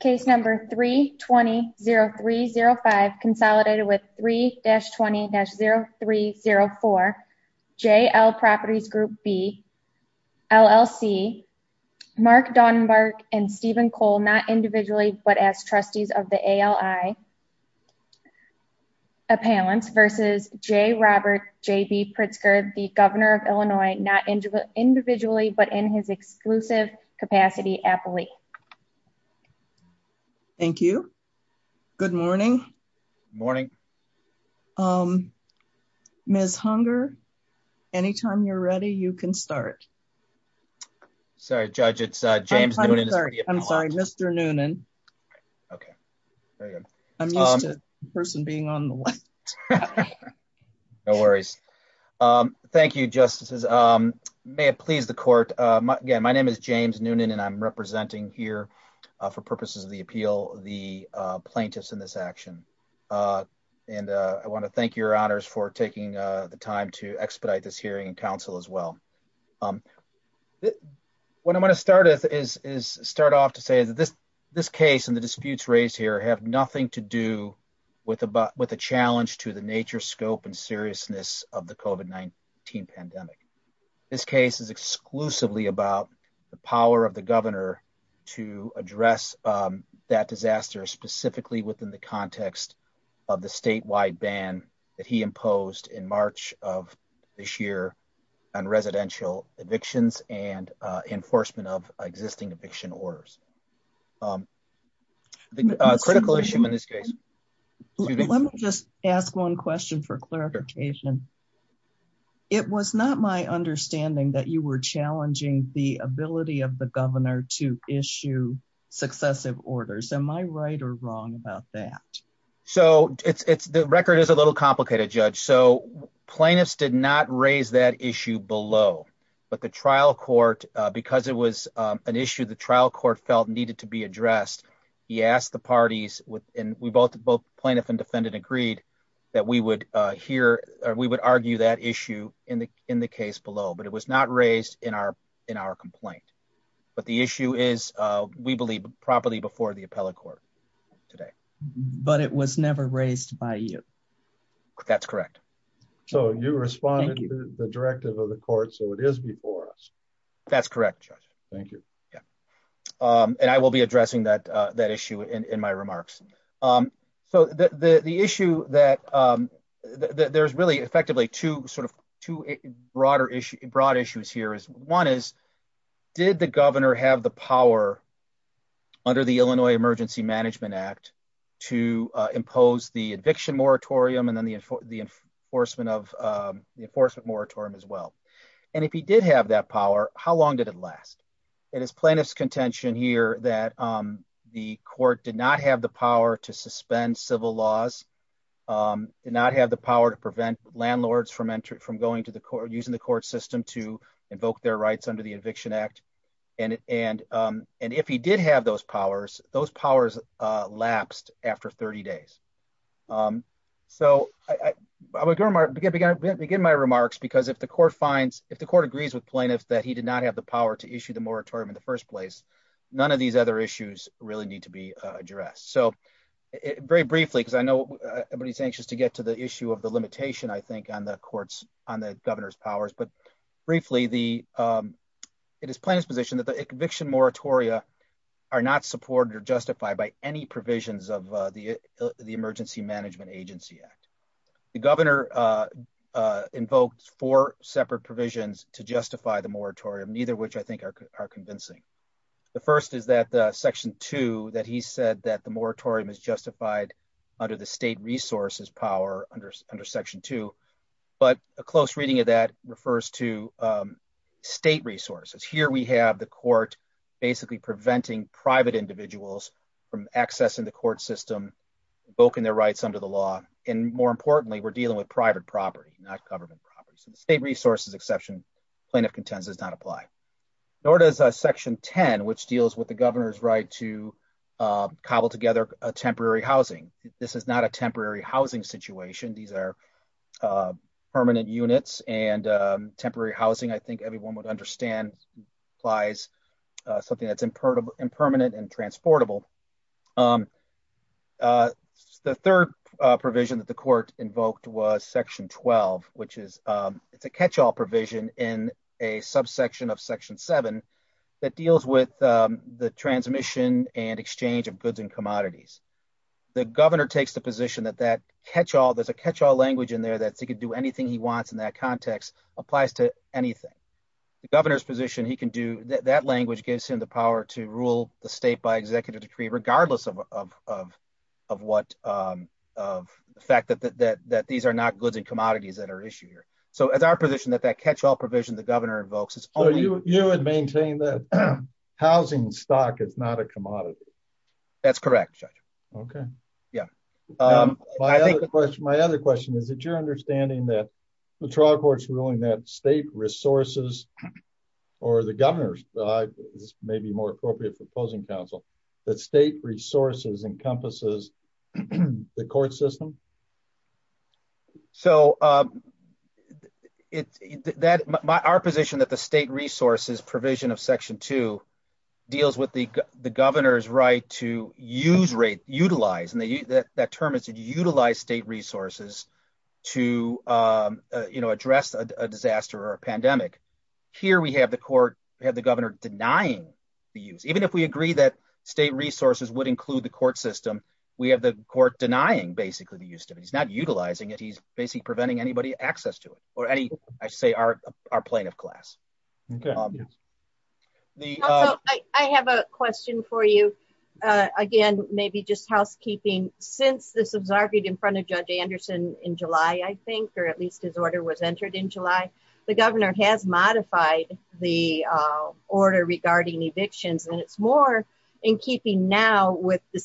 Case number 320305, consolidated with 3-20-0304, JL Properties Group B, LLC, Mark Dauenberg and Stephen Cole, not individually, but as trustees of the ALI Appellants versus J. Robert J.B. Pritzker, the Governor of Illinois, not individually, but in his exclusive capacity appellee. Thank you. Good morning. Morning. Ms. Hunger, anytime you're ready, you can start. Sorry, Judge, it's James Noonan. I'm sorry, Mr. Noonan. Okay. I'm used to the person being on the left. No worries. Thank you, Justices. May it please the court. My name is James Noonan, and I'm representing here, for purposes of the appeal, the plaintiffs in this action. And I want to thank your honors for taking the time to expedite this hearing and counsel as well. What I'm going to start with is start off to say that this case and the disputes raised here have nothing to do with a challenge to the nature, scope and seriousness of the COVID-19 pandemic. This case is exclusively about the power of the governor to address that disaster, specifically within the context of the statewide ban that he imposed in March of this year on residential evictions and enforcement of existing eviction orders. Critical issue in this case. Let me just ask one question for clarification. It was not my understanding that you were challenging the ability of the governor to issue successive orders. Am I right or wrong about that? So it's the record is a little complicated, Judge. So plaintiffs did not raise that issue below, but the trial court, because it was an issue the trial court felt needed to be addressed. He asked the parties with and we both both plaintiff and defendant agreed that we would hear or we would argue that issue in the in the case below, but it was not raised in our in our complaint. But the issue is, we believe properly before the appellate court today, but it was never raised by you. That's correct. So you responded to the directive of the court. So it is before us. That's correct, Judge. Thank you. Yeah. And I will be addressing that that issue in my remarks. So the issue that there's really effectively two sort of two broader issue broad issues here is one is, did the governor have the power under the Illinois Emergency Management Act to impose the eviction moratorium and then the enforcement of the enforcement moratorium as well. And if he did have that power, how long did it last? It is plaintiff's contention here that the court did not have the power to suspend civil laws, did not have the power to prevent landlords from entry from going to the court using the court system to invoke their rights under the Eviction Act. And, and, and if he did have those powers, those powers lapsed after 30 days. So I would begin my remarks because if the court finds, if the court agrees with plaintiffs that he did not have the power to issue the moratorium in the first place, none of these other issues really need to be addressed. So very briefly, because I know everybody's anxious to get to the issue of the limitation, I think, on the court's, on the governor's powers. But briefly, it is plaintiff's position that the eviction moratoria are not supported or justified by any provisions of the Emergency Management Agency Act. The governor invoked four separate provisions to justify the moratorium, neither of which I think are convincing. The first is that Section 2, that he said that the moratorium is justified under the state resources power under, under Section 2. But a close reading of that refers to state resources. Here we have the court basically preventing private individuals from accessing the court system, invoking their rights under the law. And more importantly, we're dealing with private property, not government property. So the state resources exception plaintiff contends does not apply. Nor does Section 10, which deals with the governor's right to cobble together a temporary housing. This is not a temporary housing situation. These are permanent units and temporary housing, I think everyone would understand, applies, something that's impertinent and transportable. The third provision that the court invoked was Section 12, which is, it's a catch-all provision in a subsection of Section 7 that deals with the transmission and exchange of goods and commodities. The governor takes the position that that catch-all, there's a catch-all language in there that he could do anything he wants in that context, applies to anything. The governor's position, he can do, that language gives him the power to rule the state by executive decree, regardless of, of, of what, of the fact that, that, that these are not goods and commodities that are issued here. So as our position that that catch-all provision, the governor invokes, it's only... So you would maintain that housing stock is not a commodity? That's correct, Judge. Okay. Yeah. My other question, my other question is that you're understanding that the trial court's ruling that state resources or the governor's, this may be more appropriate for closing counsel, that state resources encompasses the court system? So it's that, our position that the state resources provision of Section 2 deals with the governor's right to use rate, utilize, and that term is to utilize state resources to address a disaster or a pandemic. Here we have the court, we have the governor denying the use. Even if we agree that state resources would include the court system, we have the court denying basically the use of it. He's not utilizing it. He's basically preventing anybody access to it or any, I say, our plaintiff class. Okay. Also, I have a question for you. Again, maybe just housekeeping. Since this absorbed in front of Judge Anderson in July, I think, or at least his order was entered in July, the governor has modified the order regarding evictions and it's more in keeping now with the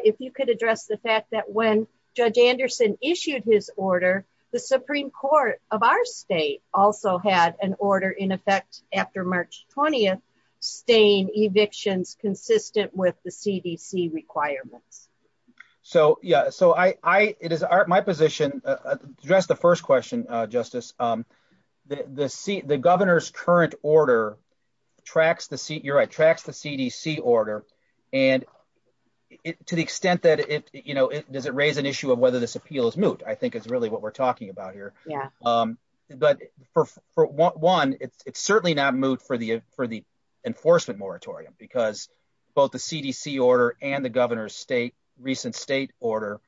if you could address the fact that when Judge Anderson issued his order, the Supreme Court of our state also had an order in effect after March 20th staying evictions consistent with the CDC requirements. So yeah, so I, it is my position to address the first question, Justice. The seat, the governor's current order tracks the seat. You're right. Tracks the CDC order. And it, to the extent that it, you know, does it raise an issue of whether this appeal is moot? I think it's really what we're talking about here. Yeah. But for one, it's certainly not moot for the, for the enforcement moratorium because both the CDC order and the governor's state, recent state order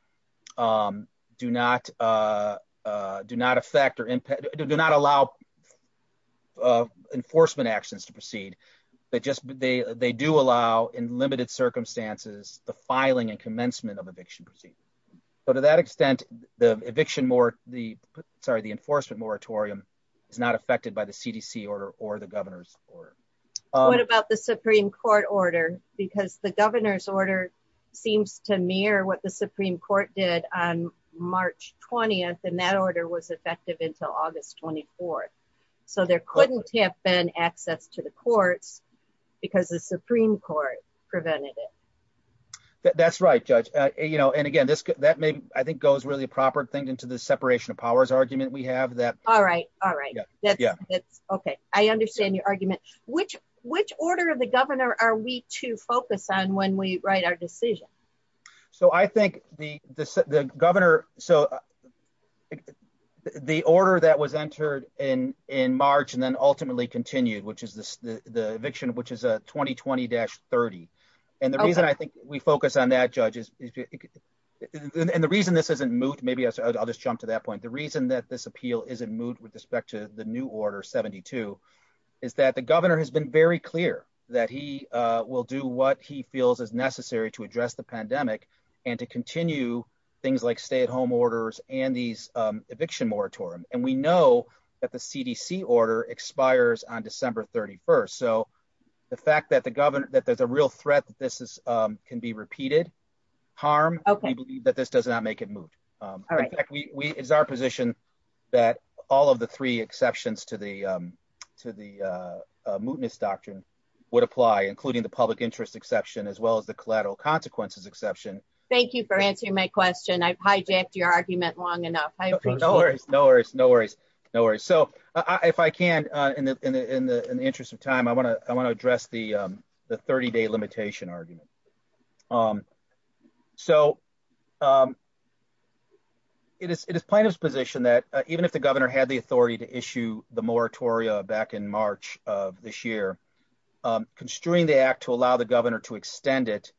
do not do not affect or do not allow enforcement actions to proceed, but just, they, they do allow in limited circumstances, the filing and commencement of eviction proceedings. But to that extent, the eviction more, the, sorry, the enforcement moratorium is not affected by the CDC order or the governor's order. What about the Supreme Court order? Because the governor's order seems to mirror what the Supreme Court did on March 20th. And that order was effective until August 24th. So there couldn't have been access to the courts because the Supreme Court prevented it. That's right, Judge. You know, and again, this, that may, I think goes really a proper thing into the separation of powers argument we have that. All right. All right. That's okay. I understand your argument, which, which order of the governor are we to focus on when we write our decision? So I think the, the governor, so the order that was entered in, in March and then ultimately continued, which is the, the eviction, which is a 2020 dash 30. And the reason I think we focus on that judge is, and the reason this isn't moot, maybe I'll just jump to that point. The reason that this appeal isn't moved with respect to the new order 72 is that the governor has been very clear that he will do what he feels is necessary to address the pandemic and to continue things like stay at home orders and these eviction moratorium. And we know that the CDC order expires on December 31st. So the fact that the governor, that there's a real threat that this is can be repeated harm that this does not make it moot. In fact, we, we, it's our position that all of the three exceptions to the, to the mootness doctrine would apply, including the public interest exception, as well as the collateral consequences exception. Thank you for answering my question. I've hijacked your argument long enough. No worries. No worries. No worries. So if I can, in the, in the, in the interest of time, I want to address the, the 30 day limitation argument. So it is, it is plaintiff's position that even if the governor had the authority to issue the moratorium back in March of this year, constrain the act to allow the governor to extend it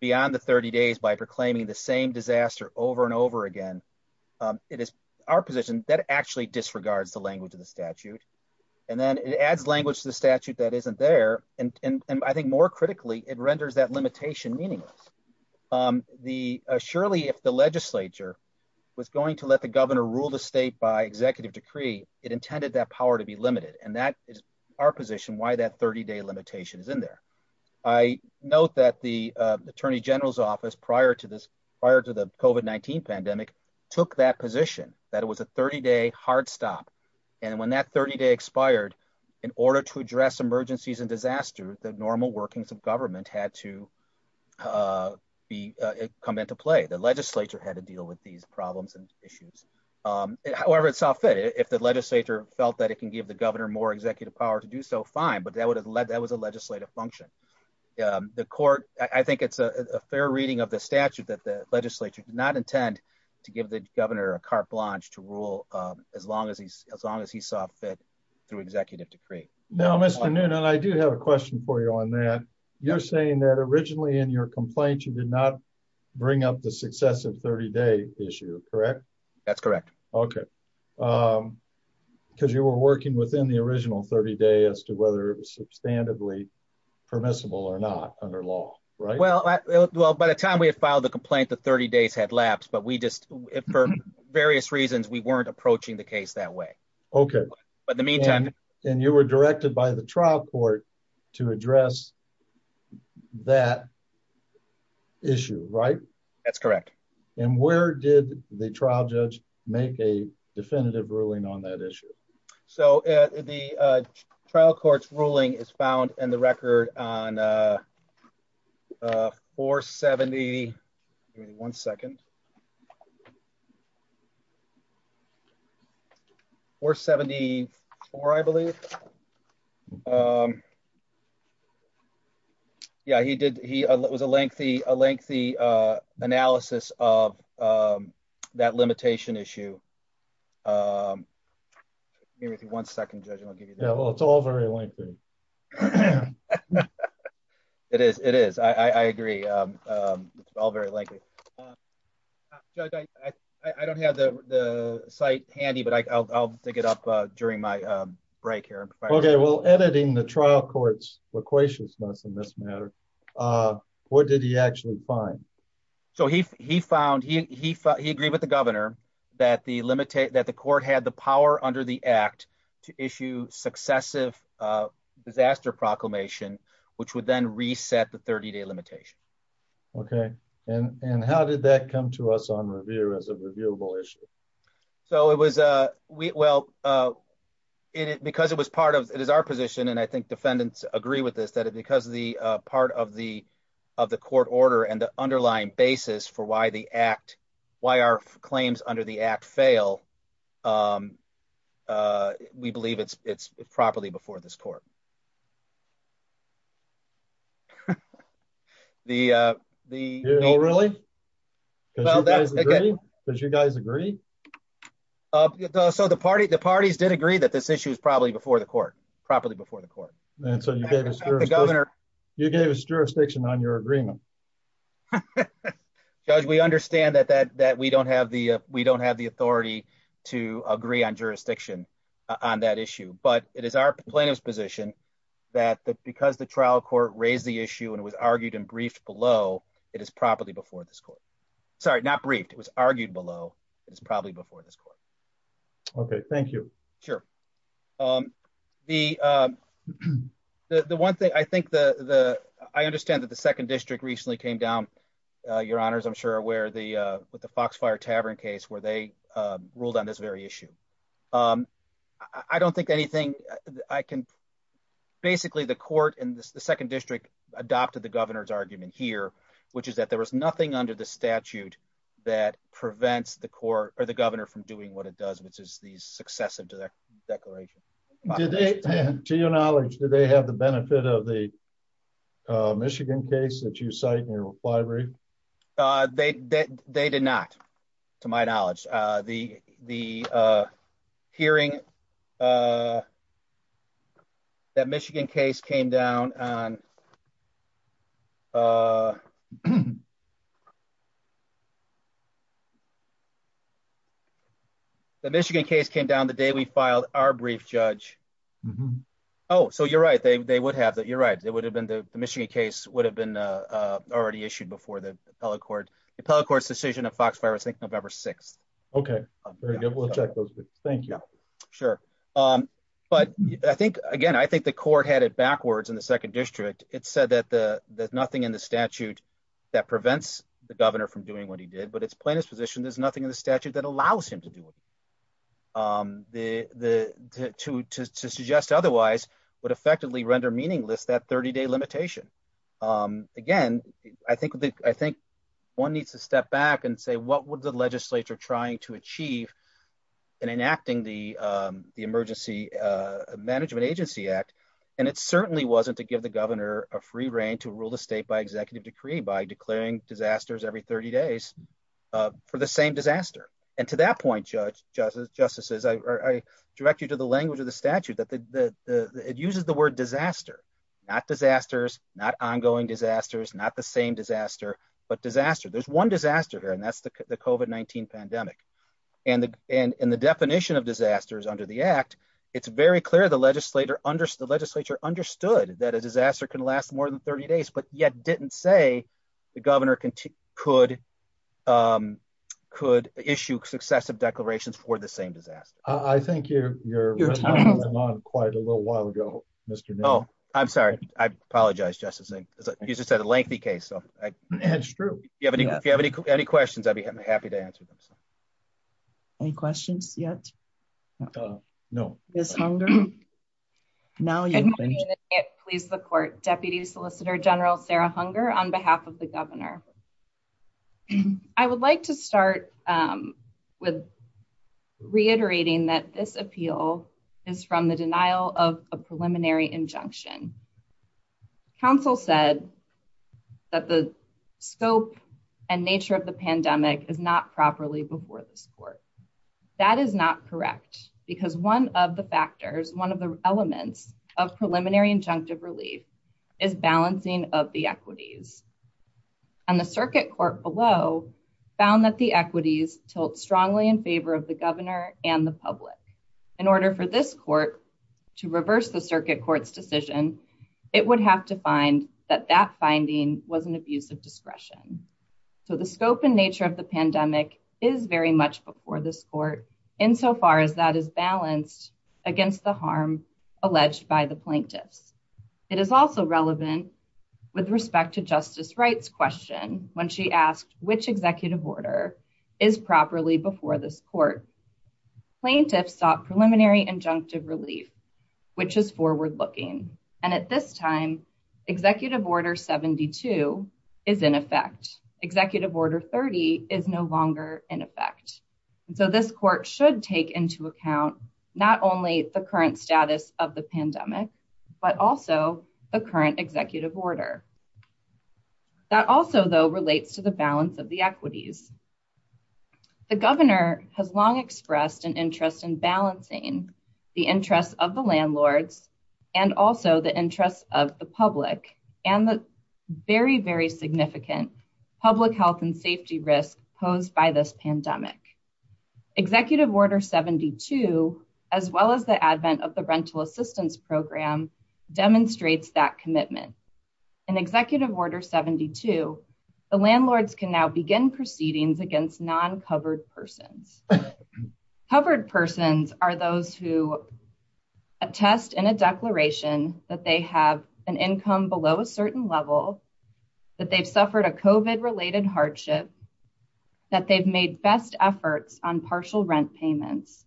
beyond the 30 days by proclaiming the same disaster over and over again. It is our position that actually disregards the language of the statute that isn't there. And, and, and I think more critically, it renders that limitation meaningless. The surely if the legislature was going to let the governor rule the state by executive decree, it intended that power to be limited. And that is our position. Why that 30 day limitation is in there. I note that the attorney general's office prior to this prior to the COVID-19 pandemic took that position that it was a 30 day hard stop. And when that 30 day in order to address emergencies and disaster, the normal workings of government had to be come into play. The legislature had to deal with these problems and issues. However, it's all fit. If the legislature felt that it can give the governor more executive power to do so fine, but that would have led, that was a legislative function. The court, I think it's a fair reading of the statute that the legislature did not intend to give the governor a carte blanche to rule. As long as he's as long as he saw fit through executive decree. Now, Mr. Noonan, I do have a question for you on that. You're saying that originally in your complaint, you did not bring up the successive 30 day issue, correct? That's correct. Okay. Because you were working within the original 30 day as to whether it was substantively permissible or not under law, right? Well, well, by the time we have filed the complaint, the 30 days had but we just, for various reasons, we weren't approaching the case that way. Okay. But in the meantime, and you were directed by the trial court to address that issue, right? That's correct. And where did the trial judge make a definitive ruling on that issue? So the trial court's ruling is found in the record on 471 second or 74, I believe. Yeah, he did. He was a lengthy, a lengthy analysis of that limitation issue. Give me one second, judge. Yeah, well, it's all very lengthy. It is, it is. I agree. All very lengthy. I don't have the site handy, but I'll pick it up during my break here. Okay, well, editing the trial court's loquaciousness in this matter, what did he actually find? So he, he found he, he, he agreed with the governor that the limit, that the court had the power under the act to issue successive disaster proclamation, which would then reset the 30 day limitation. Okay. And, and how did that come to us on review as a reviewable issue? So it was, well, it, because it was part of, it is our position. And I think defendants agree with this, that it, because of the part of the, of the court order and the underlying basis for why the act, why our claims under the act fail, we believe it's, it's properly before this court. The, the, no, really? Does you guys agree? So the party, the parties did agree that this issue is probably before the court, properly before the court. You gave us jurisdiction on your agreement. Judge, we understand that, that, that we don't have the, we don't have the authority to agree on jurisdiction on that issue, but it is our plaintiff's position that the, because the trial court raised the issue and it was argued and briefed below, it is properly before this court, sorry, not briefed. It was argued below. It's probably before this court. Okay. Thank you. Sure. The, the one thing I think the, the, I understand that the second district recently came down your honors. I'm sure where the, with the Foxfire Tavern case where they ruled on this very issue. I don't think anything I can, basically the court and the second district adopted the governor's argument here, which is that there was nothing under the statute that prevents the court or the governor from doing what it does, which is these successive to their declaration. To your knowledge, do they have the benefit of the Michigan case that you cite in your library? They did not, to my knowledge, the, the hearing that Michigan case came down on The Michigan case came down the day we filed our brief judge. Oh, so you're right. They, they would have that. You're right. It would have been the Michigan case would have been already issued before the appellate court. The appellate court's decision of Foxfire, I think November 6th. Okay. Very good. We'll check those. Thank you. Sure. But I think, again, I think the court had it backwards in the second district. It said that the, there's nothing in the statute that prevents the governor from doing what he did, but it's plaintiff's position. There's nothing in the statute that allows him to do it. The, the, to, to, to suggest otherwise would effectively render meaningless that 30 day limitation. Again, I think, I think one needs to step back and say, what would the legislature trying to achieve and enacting the, the emergency management agency act. And it certainly wasn't to give the governor a free reign to rule the state by executive decree by declaring disasters every 30 days for the same disaster. And to that point, judge justice, justices, I direct you to the language of the statute that the, the, the, it uses the word disaster, not disasters, not ongoing disasters, not the same disaster, but disaster. There's one disaster here. And that's the COVID-19 pandemic and the, and, and the definition of disasters under the act. It's very clear. The legislator under the legislature understood that a disaster can last more than 30 days, but yet didn't say the governor can, could, could issue successive declarations for the same disaster. I think you're, you're quite a little while ago, Mr. No, I'm sorry. I apologize. Justice. He's just had a lengthy case. So that's true. If you have any, if you have any, any questions, I'd be happy to answer them. So any questions yet? No, it's hunger. Now you please the court deputy solicitor general, Sarah hunger on behalf of the governor. I would like to start, um, with reiterating that this appeal is from the denial of a preliminary injunction. Counsel said that the scope and nature of the pandemic is not properly before this court. That is not correct because one of the factors, one of the elements of preliminary injunctive relief is balancing of the equities and the circuit court below found that the equities tilt strongly in favor of the governor and the public in order for this court to reverse the decision, it would have to find that that finding was an abuse of discretion. So the scope and nature of the pandemic is very much before this court insofar as that is balanced against the harm alleged by the plaintiffs. It is also relevant with respect to justice rights question. When she asked which executive order is properly before this court plaintiffs sought preliminary injunctive relief, which is forward looking. And at this time, executive order 72 is in effect, executive order 30 is no longer in effect. And so this court should take into account not only the current status of the pandemic, but also the current executive order. That also, though, relates to the balance of the equities. The governor has long expressed an interest in balancing the interests of the landlords and also the interests of the public and the very, very significant public health and safety risk posed by this pandemic. Executive order 72, as well as the advent of the rental assistance program, demonstrates that commitment. In executive order 72, the landlords can now begin proceedings against non-covered persons. Covered persons are those who attest in a declaration that they have an income below a certain level, that they've suffered a COVID related hardship, that they've made best efforts on partial rent payments,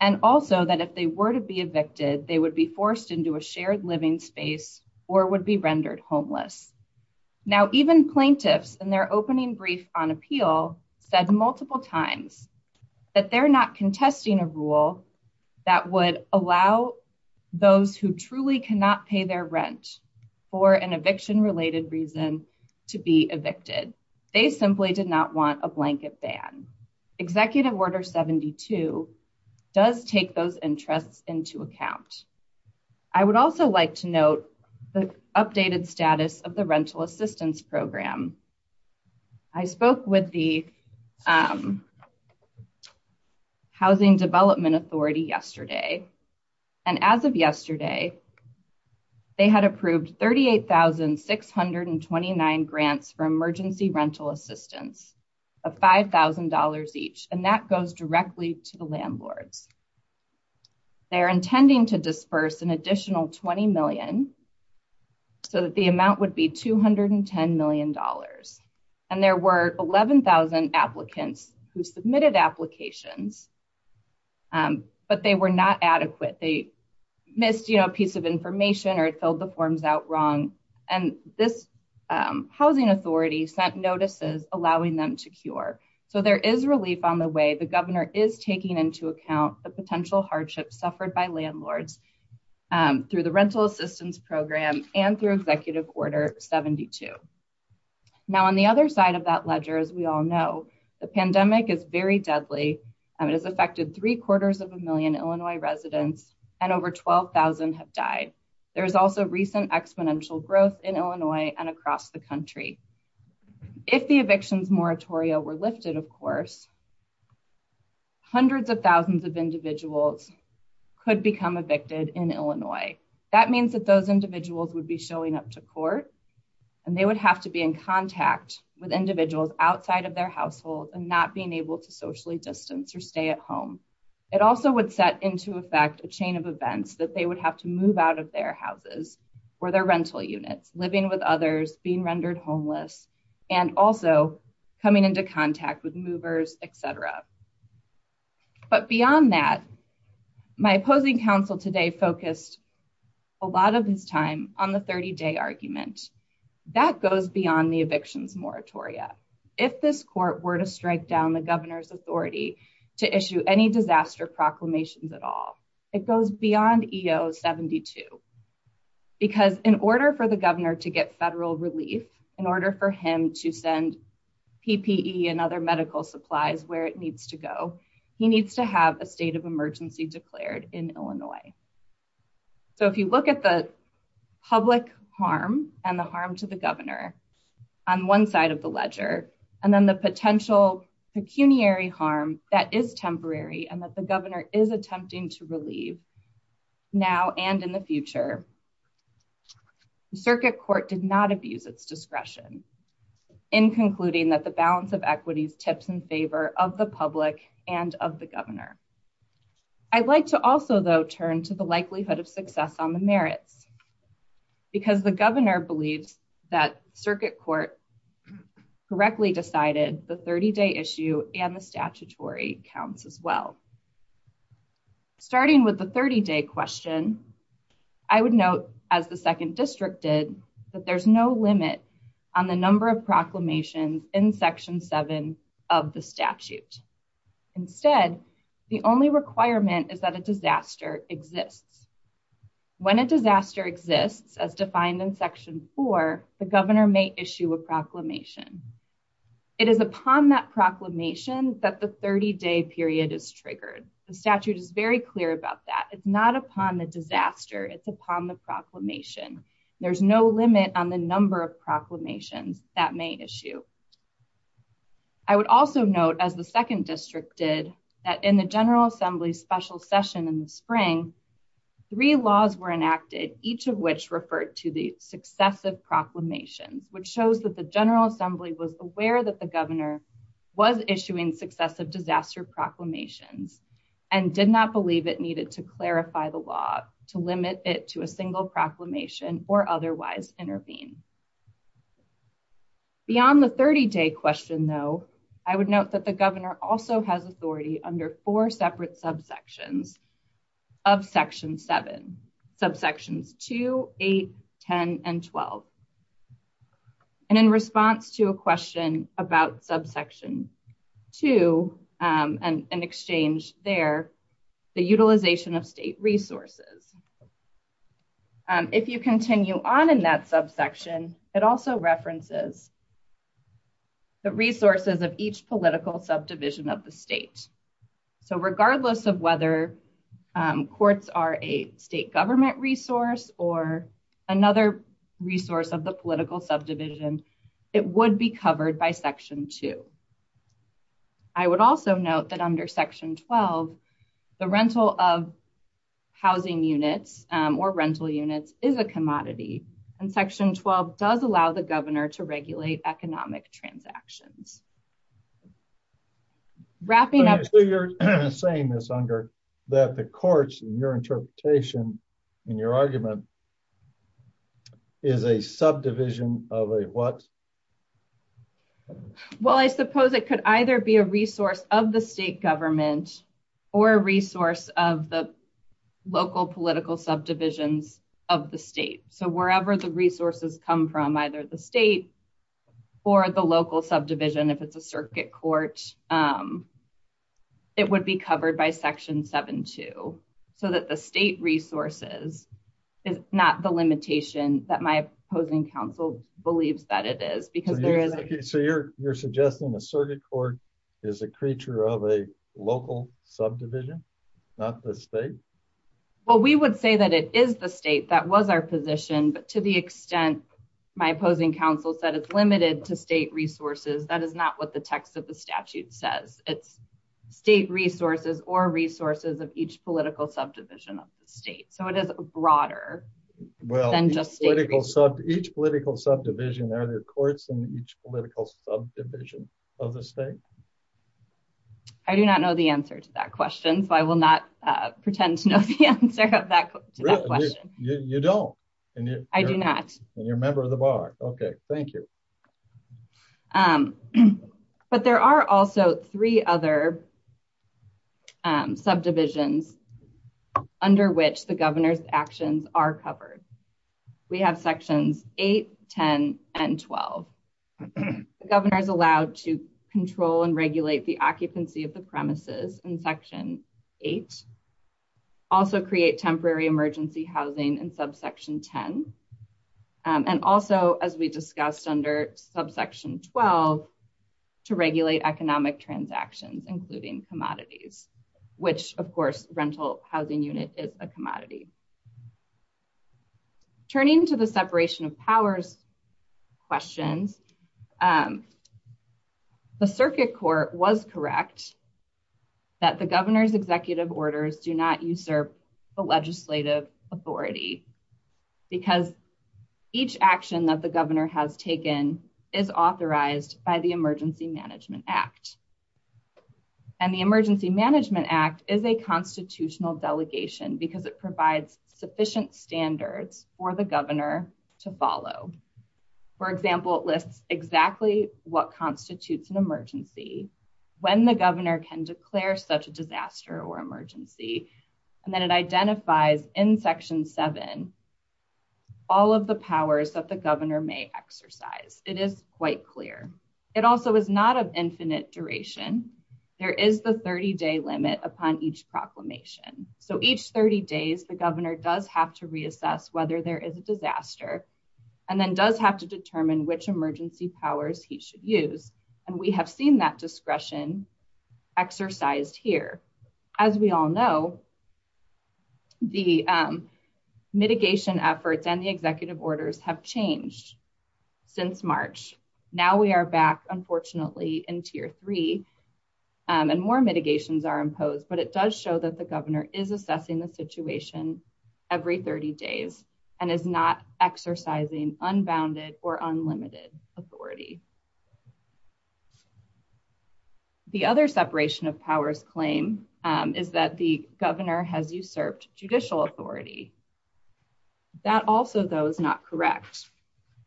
and also that if they were to be shared living space or would be rendered homeless. Now, even plaintiffs in their opening brief on appeal said multiple times that they're not contesting a rule that would allow those who truly cannot pay their rent for an eviction related reason to be evicted. They simply did not want a blanket ban. Executive order 72 does take those interests into account. I would also like to note the updated status of the rental assistance program. I spoke with the Housing Development Authority yesterday, and as of yesterday, they had approved 38,629 grants for emergency rental assistance of $5,000 each, and that goes directly to the landlords. They're intending to disperse an additional $20 million, so that the amount would be $210 million, and there were 11,000 applicants who submitted applications, but they were not adequate. They missed a piece of information or filled the forms out wrong, and this housing authority sent notices allowing them to cure. So, there is relief on the way. The governor is taking into account the potential hardship suffered by landlords through the rental assistance program and through Executive Order 72. Now, on the other side of that ledger, as we all know, the pandemic is very deadly, and it has affected three-quarters of a million Illinois residents, and over 12,000 have died. There is also recent exponential growth in Illinois and across the country. If the evictions moratoria were lifted, of course, hundreds of thousands of individuals could become evicted in Illinois. That means that those individuals would be showing up to court, and they would have to be in contact with individuals outside of their household and not being able to socially distance or stay at home. It also would set into effect a chain of events that they would have to move out of their houses or their rental units, living with others, being rendered homeless, and also coming into contact with movers, et cetera. But beyond that, my opposing counsel today focused a lot of his time on the 30-day argument. That goes beyond the evictions moratoria. If this court were to strike down the governor's authority to issue any disaster proclamations at all, it goes beyond EO 72. Because in order for the governor to get federal relief, in order for him to send PPE and other medical supplies where it needs to go, he needs to have a state of emergency declared in Illinois. So if you look at the public harm and the harm to the governor on one side of the ledger, and then the potential pecuniary harm that is temporary and that the governor needs to relieve now and in the future, the circuit court did not abuse its discretion in concluding that the balance of equities tips in favor of the public and of the governor. I'd like to also, though, turn to the likelihood of success on the merits, because the governor believes that circuit court correctly decided the 30-day issue and the statutory counts as well. Starting with the 30-day question, I would note, as the second district did, that there's no limit on the number of proclamations in Section 7 of the statute. Instead, the only requirement is that a disaster exists. When a disaster exists, as the 30-day period is triggered, the statute is very clear about that. It's not upon the disaster, it's upon the proclamation. There's no limit on the number of proclamations that may issue. I would also note, as the second district did, that in the General Assembly's special session in the spring, three laws were enacted, each of which referred to the successive proclamations, which shows that the General Assembly was aware that the governor was issuing successive disaster proclamations and did not believe it needed to clarify the law to limit it to a single proclamation or otherwise intervene. Beyond the 30-day question, though, I would note that the governor also has authority under four separate subsections of Section 7, subsections 2, 8, 10, and 12. In response to a question about subsection 2, an exchange there, the utilization of state resources. If you continue on in that subsection, it also references the resources of each political subdivision of the state. Regardless of whether courts are a state government resource or another resource of the political subdivision, it would be covered by Section 2. I would also note that under Section 12, the rental of housing units or rental units is a commodity, and Section 12 does allow the governor to regulate economic transactions. So you're saying, Miss Unger, that the courts, in your interpretation, in your argument, is a subdivision of a what? Well, I suppose it could either be a resource of the state government or a resource of the local political subdivisions of the state. So wherever the resources come from, either the state or the local subdivision, if it's a circuit court, it would be covered by Section 7.2, so that the state resources is not the limitation that my opposing counsel believes that it is. So you're suggesting the circuit court is a creature of a local subdivision, not the state? Well, we would say that it is the state. That was our position, but to the extent my opposing counsel said it's limited to state resources, that is not what the text of the statute says. It's state resources or resources of each political subdivision of the state. So it is broader than just state resources. Each political subdivision, are there courts in each political subdivision of the state? I do not know the answer to that question, so I will not Okay, thank you. But there are also three other subdivisions under which the governor's actions are covered. We have Sections 8, 10, and 12. The governor is allowed to control and regulate the occupancy of the premises in Section 8, also create temporary emergency housing in subsection 10, and also, as we discussed under subsection 12, to regulate economic transactions, including commodities, which, of course, rental housing unit is a commodity. Turning to the separation of powers questions, the circuit court was correct that the governor's executive orders do not usurp the legislative authority because each action that the governor has taken is authorized by the Emergency Management Act. And the Emergency Management Act is a constitutional delegation because it provides sufficient standards for the governor to follow. For example, it lists exactly what constitutes an emergency, when the governor can declare such a disaster or emergency, and then it identifies in Section 7 all of the powers that the governor may exercise. It is quite clear. It also is not of infinite duration. There is the 30-day limit upon each proclamation. So each 30 days, the governor does have to reassess whether there is a disaster and then does have to determine which have seen that discretion exercised here. As we all know, the mitigation efforts and the executive orders have changed since March. Now we are back, unfortunately, in Tier 3, and more mitigations are imposed, but it does show that the governor is assessing the situation every 30 days and is not exercising unbounded or unlimited authority. The other separation of powers claim is that the governor has usurped judicial authority. That also, though, is not correct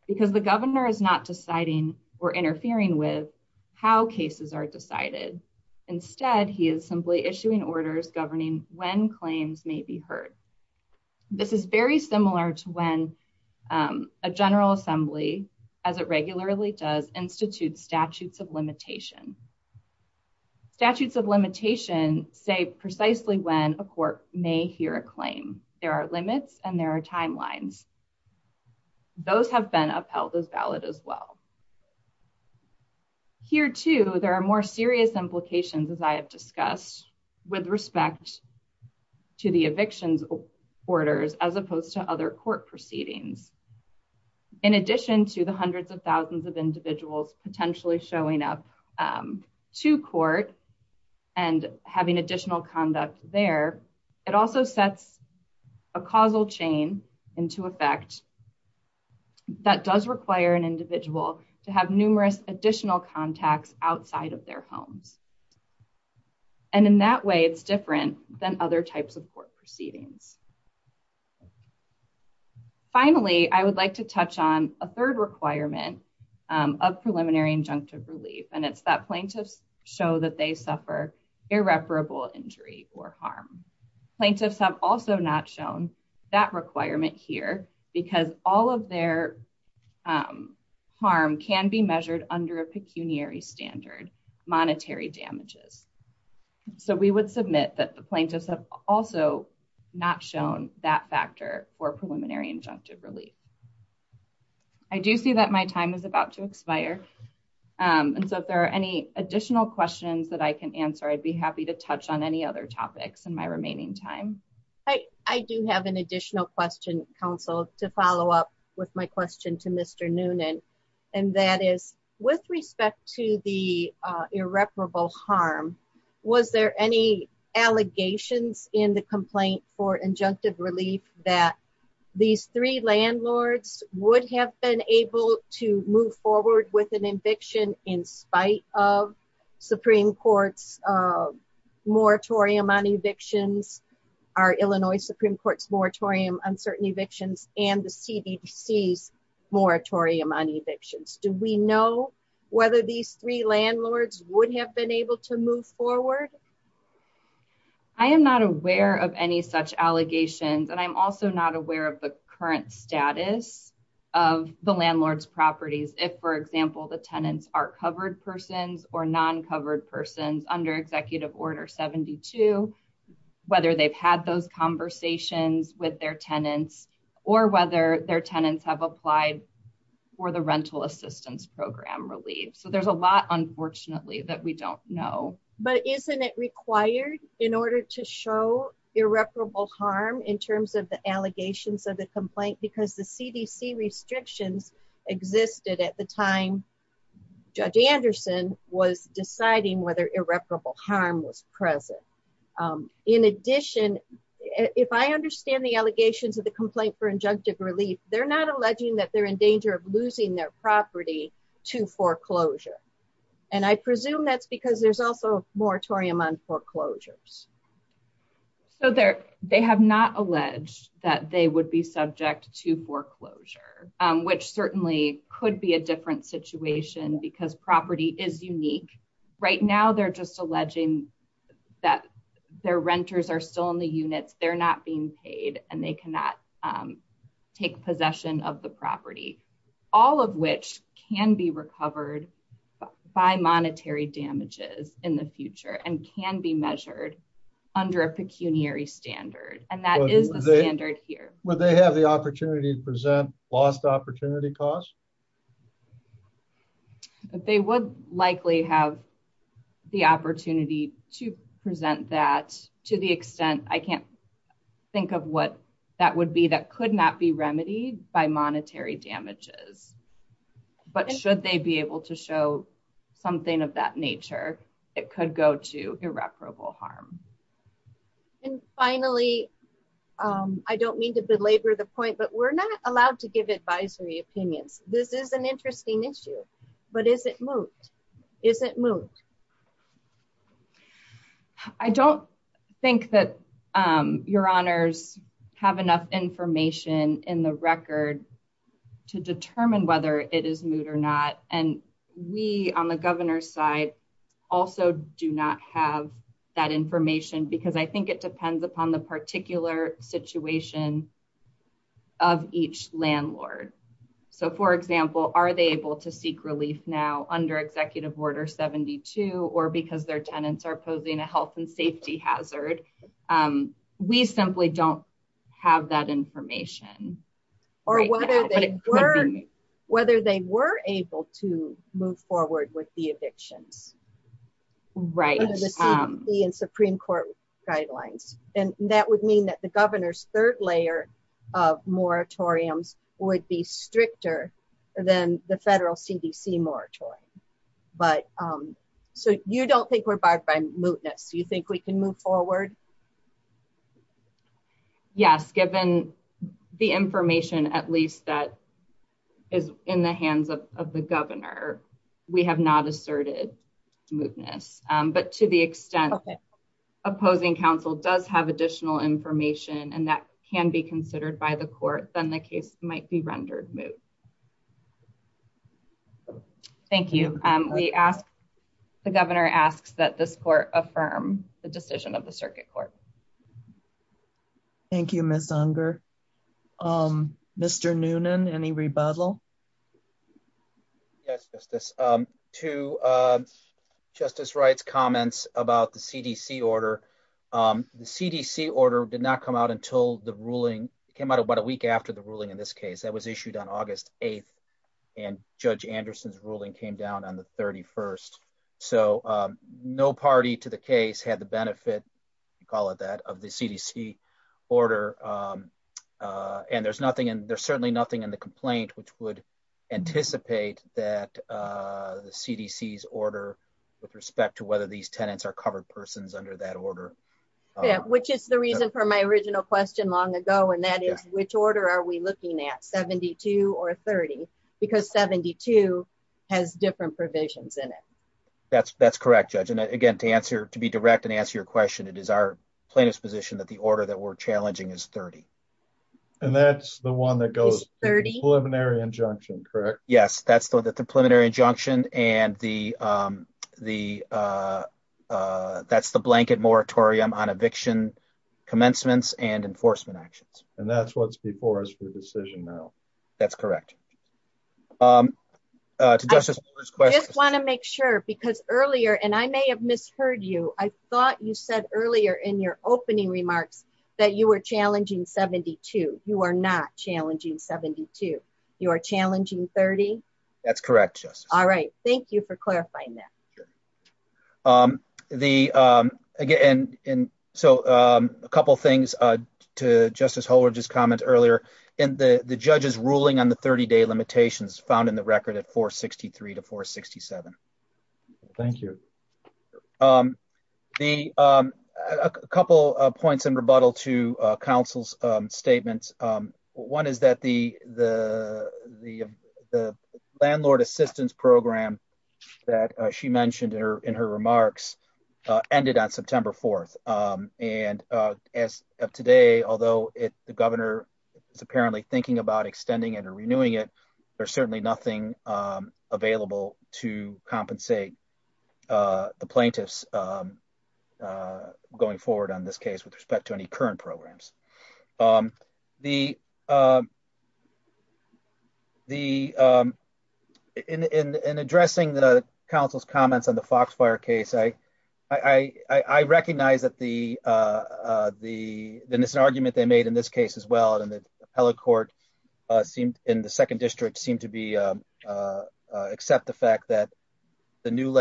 because the governor is not deciding or interfering with how cases are decided. Instead, he is simply issuing orders governing when claims may be heard. This is very similar to when a General Assembly, as it regularly does, institutes statutes of limitation. Statutes of limitation say precisely when a court may hear a claim. There are limits and there are timelines. Those have been upheld as valid as well. Here, too, there are more serious implications, as I have discussed, with respect to the evictions orders as opposed to other court proceedings. In addition to the hundreds of thousands of individuals potentially showing up to court and having additional conduct there, it also sets a causal chain into effect that does require an individual to have numerous additional contacts outside of their homes. In that way, it is different than other types of court proceedings. Finally, I would like to touch on a third requirement of preliminary injunctive relief, and it is that plaintiffs show that they suffer irreparable injury or harm. Plaintiffs have also not shown that requirement here because all of their harm can be measured under a pecuniary standard, monetary damages. We would submit that the plaintiffs have also not shown that factor for preliminary injunctive relief. I do see that my time is about to expire, and so if there are any additional questions that I can answer, I'd be happy to touch on any other topics in my remaining time. I do have an additional question, counsel, to follow up with my question to Mr. Noonan, and that is, with respect to the irreparable harm, was there any allegations in the complaint for injunctive relief that these three landlords would have been able to move forward with an eviction in spite of Supreme Court's moratorium on evictions, our Illinois Supreme Court's moratorium on certain evictions, and the CDC's moratorium on evictions? Do we know whether these three landlords would have been able to move forward? I am not aware of any such allegations, and I'm also not aware of the current status of the landlord's properties if, for example, the tenants are covered persons or non-covered persons under Executive Order 72, whether they've had those conversations with their tenants or whether their tenants have applied for the rental assistance program relief. There's a lot, unfortunately, that we don't know. But isn't it required in order to show irreparable harm in terms of the allegations of the complaint? Because the CDC restrictions existed at the time Judge Anderson was deciding whether irreparable harm was present. In addition, if I understand the allegations of the complaint for injunctive relief, they're not alleging that they're in danger of losing their property to foreclosure. And I presume that's because there's also a moratorium on foreclosures. So they have not alleged that they would be subject to foreclosure, which certainly could be a different situation because property is unique. Right now, they're just alleging that their renters are still in the possession of the property, all of which can be recovered by monetary damages in the future and can be measured under a pecuniary standard. And that is the standard here. Would they have the opportunity to present lost opportunity costs? They would likely have the opportunity to present that to the extent I can't think of what that would be that could not be remedied by monetary damages. But should they be able to show something of that nature, it could go to irreparable harm. And finally, I don't mean to belabor the point, but we're not allowed to give advisory opinions. This is an interesting issue. But is it moot? Is it moot? I don't think that your honors have enough information in the record to determine whether it is moot or not. And we on the governor's side also do not have that information because I think it depends upon the particular situation of each landlord. So for example, are they able to seek relief now under Executive Order 72 or because their tenants are posing a health and safety hazard? We simply don't have that information. Or whether they were able to move forward with the evictions. Right. Under the CDC and Supreme Court guidelines. And that would mean that the court would not be able to see moratorium. So you don't think we're barred by mootness? Do you think we can move forward? Yes. Given the information at least that is in the hands of the governor, we have not asserted mootness. But to the extent opposing counsel does have additional information and that can be considered by the court, then the case might be rendered moot. Thank you. The governor asks that this court affirm the decision of the circuit court. Thank you, Ms. Unger. Mr. Noonan, any rebuttal? Yes, Justice. To Justice Wright's comments about the CDC order. The CDC order did not come out until the ruling came out about a week after the ruling in this case that was issued on August 8th and Judge Anderson's ruling came down on the 31st. So no party to the case had the benefit, call it that, of the CDC order. And there's certainly nothing in the complaint which would anticipate that the CDC's order with respect to whether these tenants are covered persons under that order. Yeah, which is the reason for my original question long ago. And that is which order are we looking at 72 or 30? Because 72 has different provisions in it. That's correct, Judge. And again, to answer to be direct and answer your question, it is our plaintiff's position that the order that we're challenging is 30. And that's the one that goes 30 preliminary injunction, correct? Yes, that's the preliminary injunction. And that's the blanket moratorium on decision now. That's correct. I just want to make sure because earlier and I may have misheard you, I thought you said earlier in your opening remarks that you were challenging 72. You are not challenging 72. You are challenging 30. That's correct. All right. Thank you for clarifying that. Again, so a couple things to Justice Holder's comment earlier in the judge's ruling on the 30-day limitations found in the record at 463 to 467. Thank you. A couple of points in her remarks ended on September 4th. And as of today, although the governor is apparently thinking about extending it or renewing it, there's certainly nothing available to compensate the plaintiffs going forward on this case with respect to any current programs. In addressing the council's comments on the Foxfire case, I recognize that it's an argument they made in this case as well. And the appellate court in the second district seemed to accept the fact that some new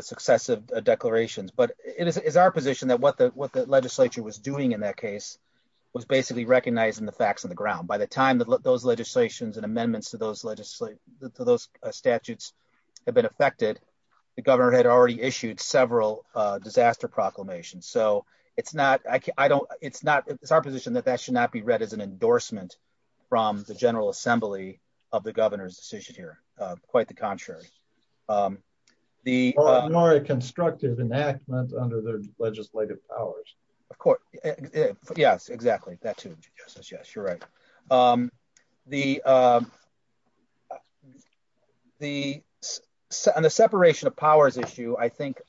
successive declarations. But it is our position that what the legislature was doing in that case was basically recognizing the facts on the ground. By the time that those legislations and amendments to those statutes have been effected, the governor had already issued several disaster proclamations. So it's our position that that should not be read as an endorsement from the general assembly of the governor's decision here. Quite the contrary. Constructive enactment under their legislative powers. Of course. Yes, exactly. That's true. Yes, you're right. On the separation of powers issue, I think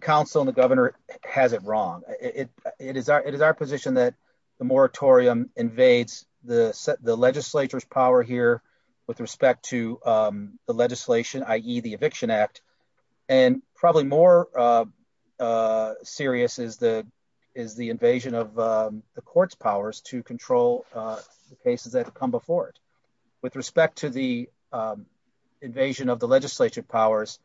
council and the governor has it wrong. It is our position that the moratorium invades the legislature's power here with respect to the legislation, i.e. the eviction act. And probably more serious is the invasion of the court's powers to control the cases that come before it. With respect to the invasion of the legislative powers,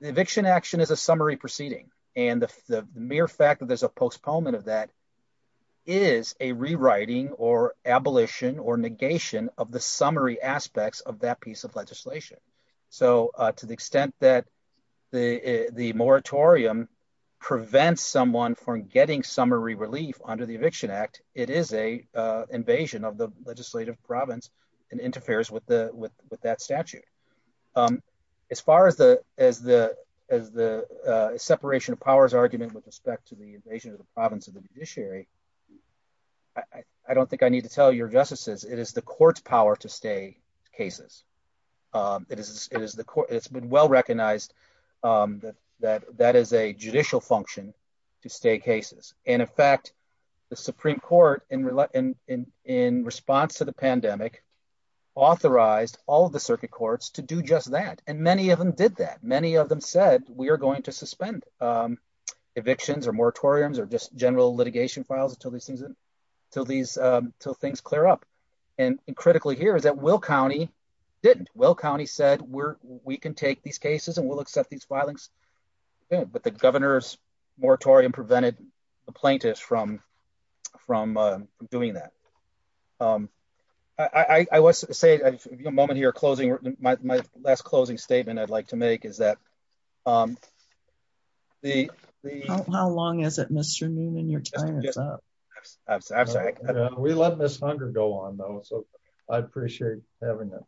the eviction action is a summary proceeding. And the mere fact that there's a postponement of that is a rewriting or abolition or negation of the summary aspects of that piece of legislation. So to the extent that the moratorium prevents someone from getting summary relief under the eviction act, it is an invasion of the legislative province and interferes with that statute. As far as the separation of powers argument with respect to the invasion of the province of the judiciary, I don't think I need to tell your justices, it is the court's power to stay cases. It's been well-recognized that that is a judicial function to stay cases. And in fact, the Supreme Court in response to the pandemic authorized all of the circuit courts to do just that. And many of them did that. Many of them said, we are going to suspend evictions or moratoriums or just general litigation files until things clear up. And critically here is that Will County didn't. Will County said, we can take these cases and we'll accept these filings. But the governor's moratorium prevented the plaintiffs from doing that. I want to say a moment here, my last closing statement I'd like to make is that the- How long is it Mr. Newman, you're tying us up. I'm sorry. We let this hunger go on though. So I appreciate having that.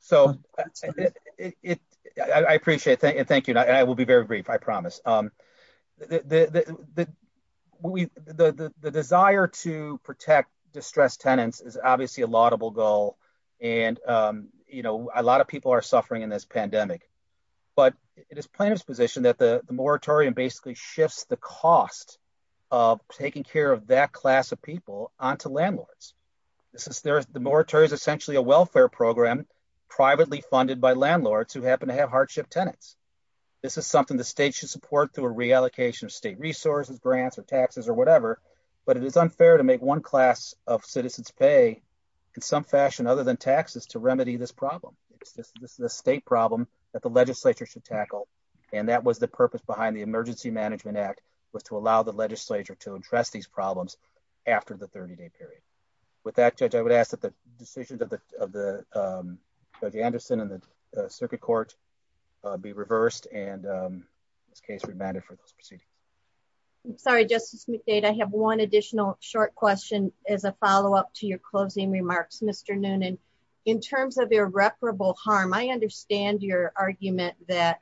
So I appreciate it. Thank you. And I will be very brief, I promise. The desire to protect distressed tenants is obviously a laudable goal. And a lot of people are suffering in this pandemic, but it is plaintiff's position that the moratorium basically shifts the cost of taking care of that class of people onto landlords. The moratorium is essentially a welfare program privately funded by landlords who happen to have hardship tenants. This is something the state should support through a reallocation of state resources, grants or taxes or whatever. But it is unfair to make one class of citizens pay in some fashion other than taxes to remedy this problem. This is a state problem that the legislature should tackle. And that was the purpose behind the Emergency Management Act was to allow the legislature to address these problems after the 30-day period. With that, Judge, I would ask that the decisions of Judge Anderson and the circuit court be reversed and this case remanded for this proceeding. Sorry, Justice McDade, I have one additional short question as a follow up to your closing remarks, Mr. Noonan. In terms of irreparable harm, I understand your argument that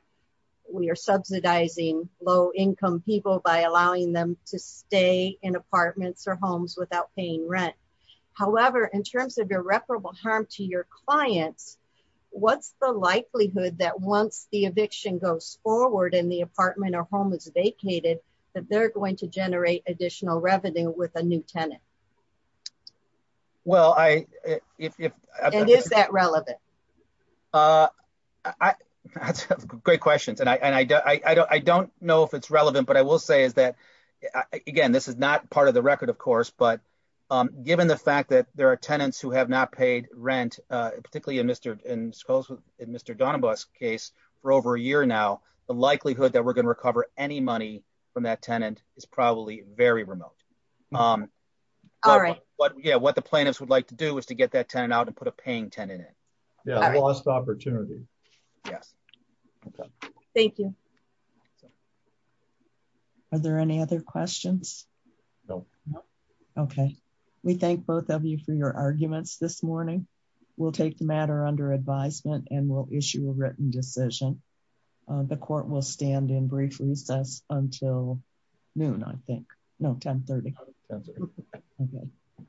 we are subsidizing low-income people by allowing them to stay in apartments or homes without paying rent. However, in terms of irreparable harm to your clients, what's the likelihood that once the eviction goes forward and the apartment or home is vacated, that they're going to generate additional revenue with a new tenant? And is that relevant? Great questions. And I don't know if it's relevant, but I will say is that, again, this is not part of the record, of course, but given the fact that there are tenants who have not paid rent, particularly in Mr. Donabas' case for over a year now, the likelihood that we're any money from that tenant is probably very remote. What the plaintiffs would like to do is to get that tenant out and put a paying tenant in. Lost opportunity. Yes. Thank you. Are there any other questions? No. Okay. We thank both of you for your arguments this morning. We'll take the matter under advisement and we'll issue a written decision. The court will stand in brief recess until noon, I think. No, 1030.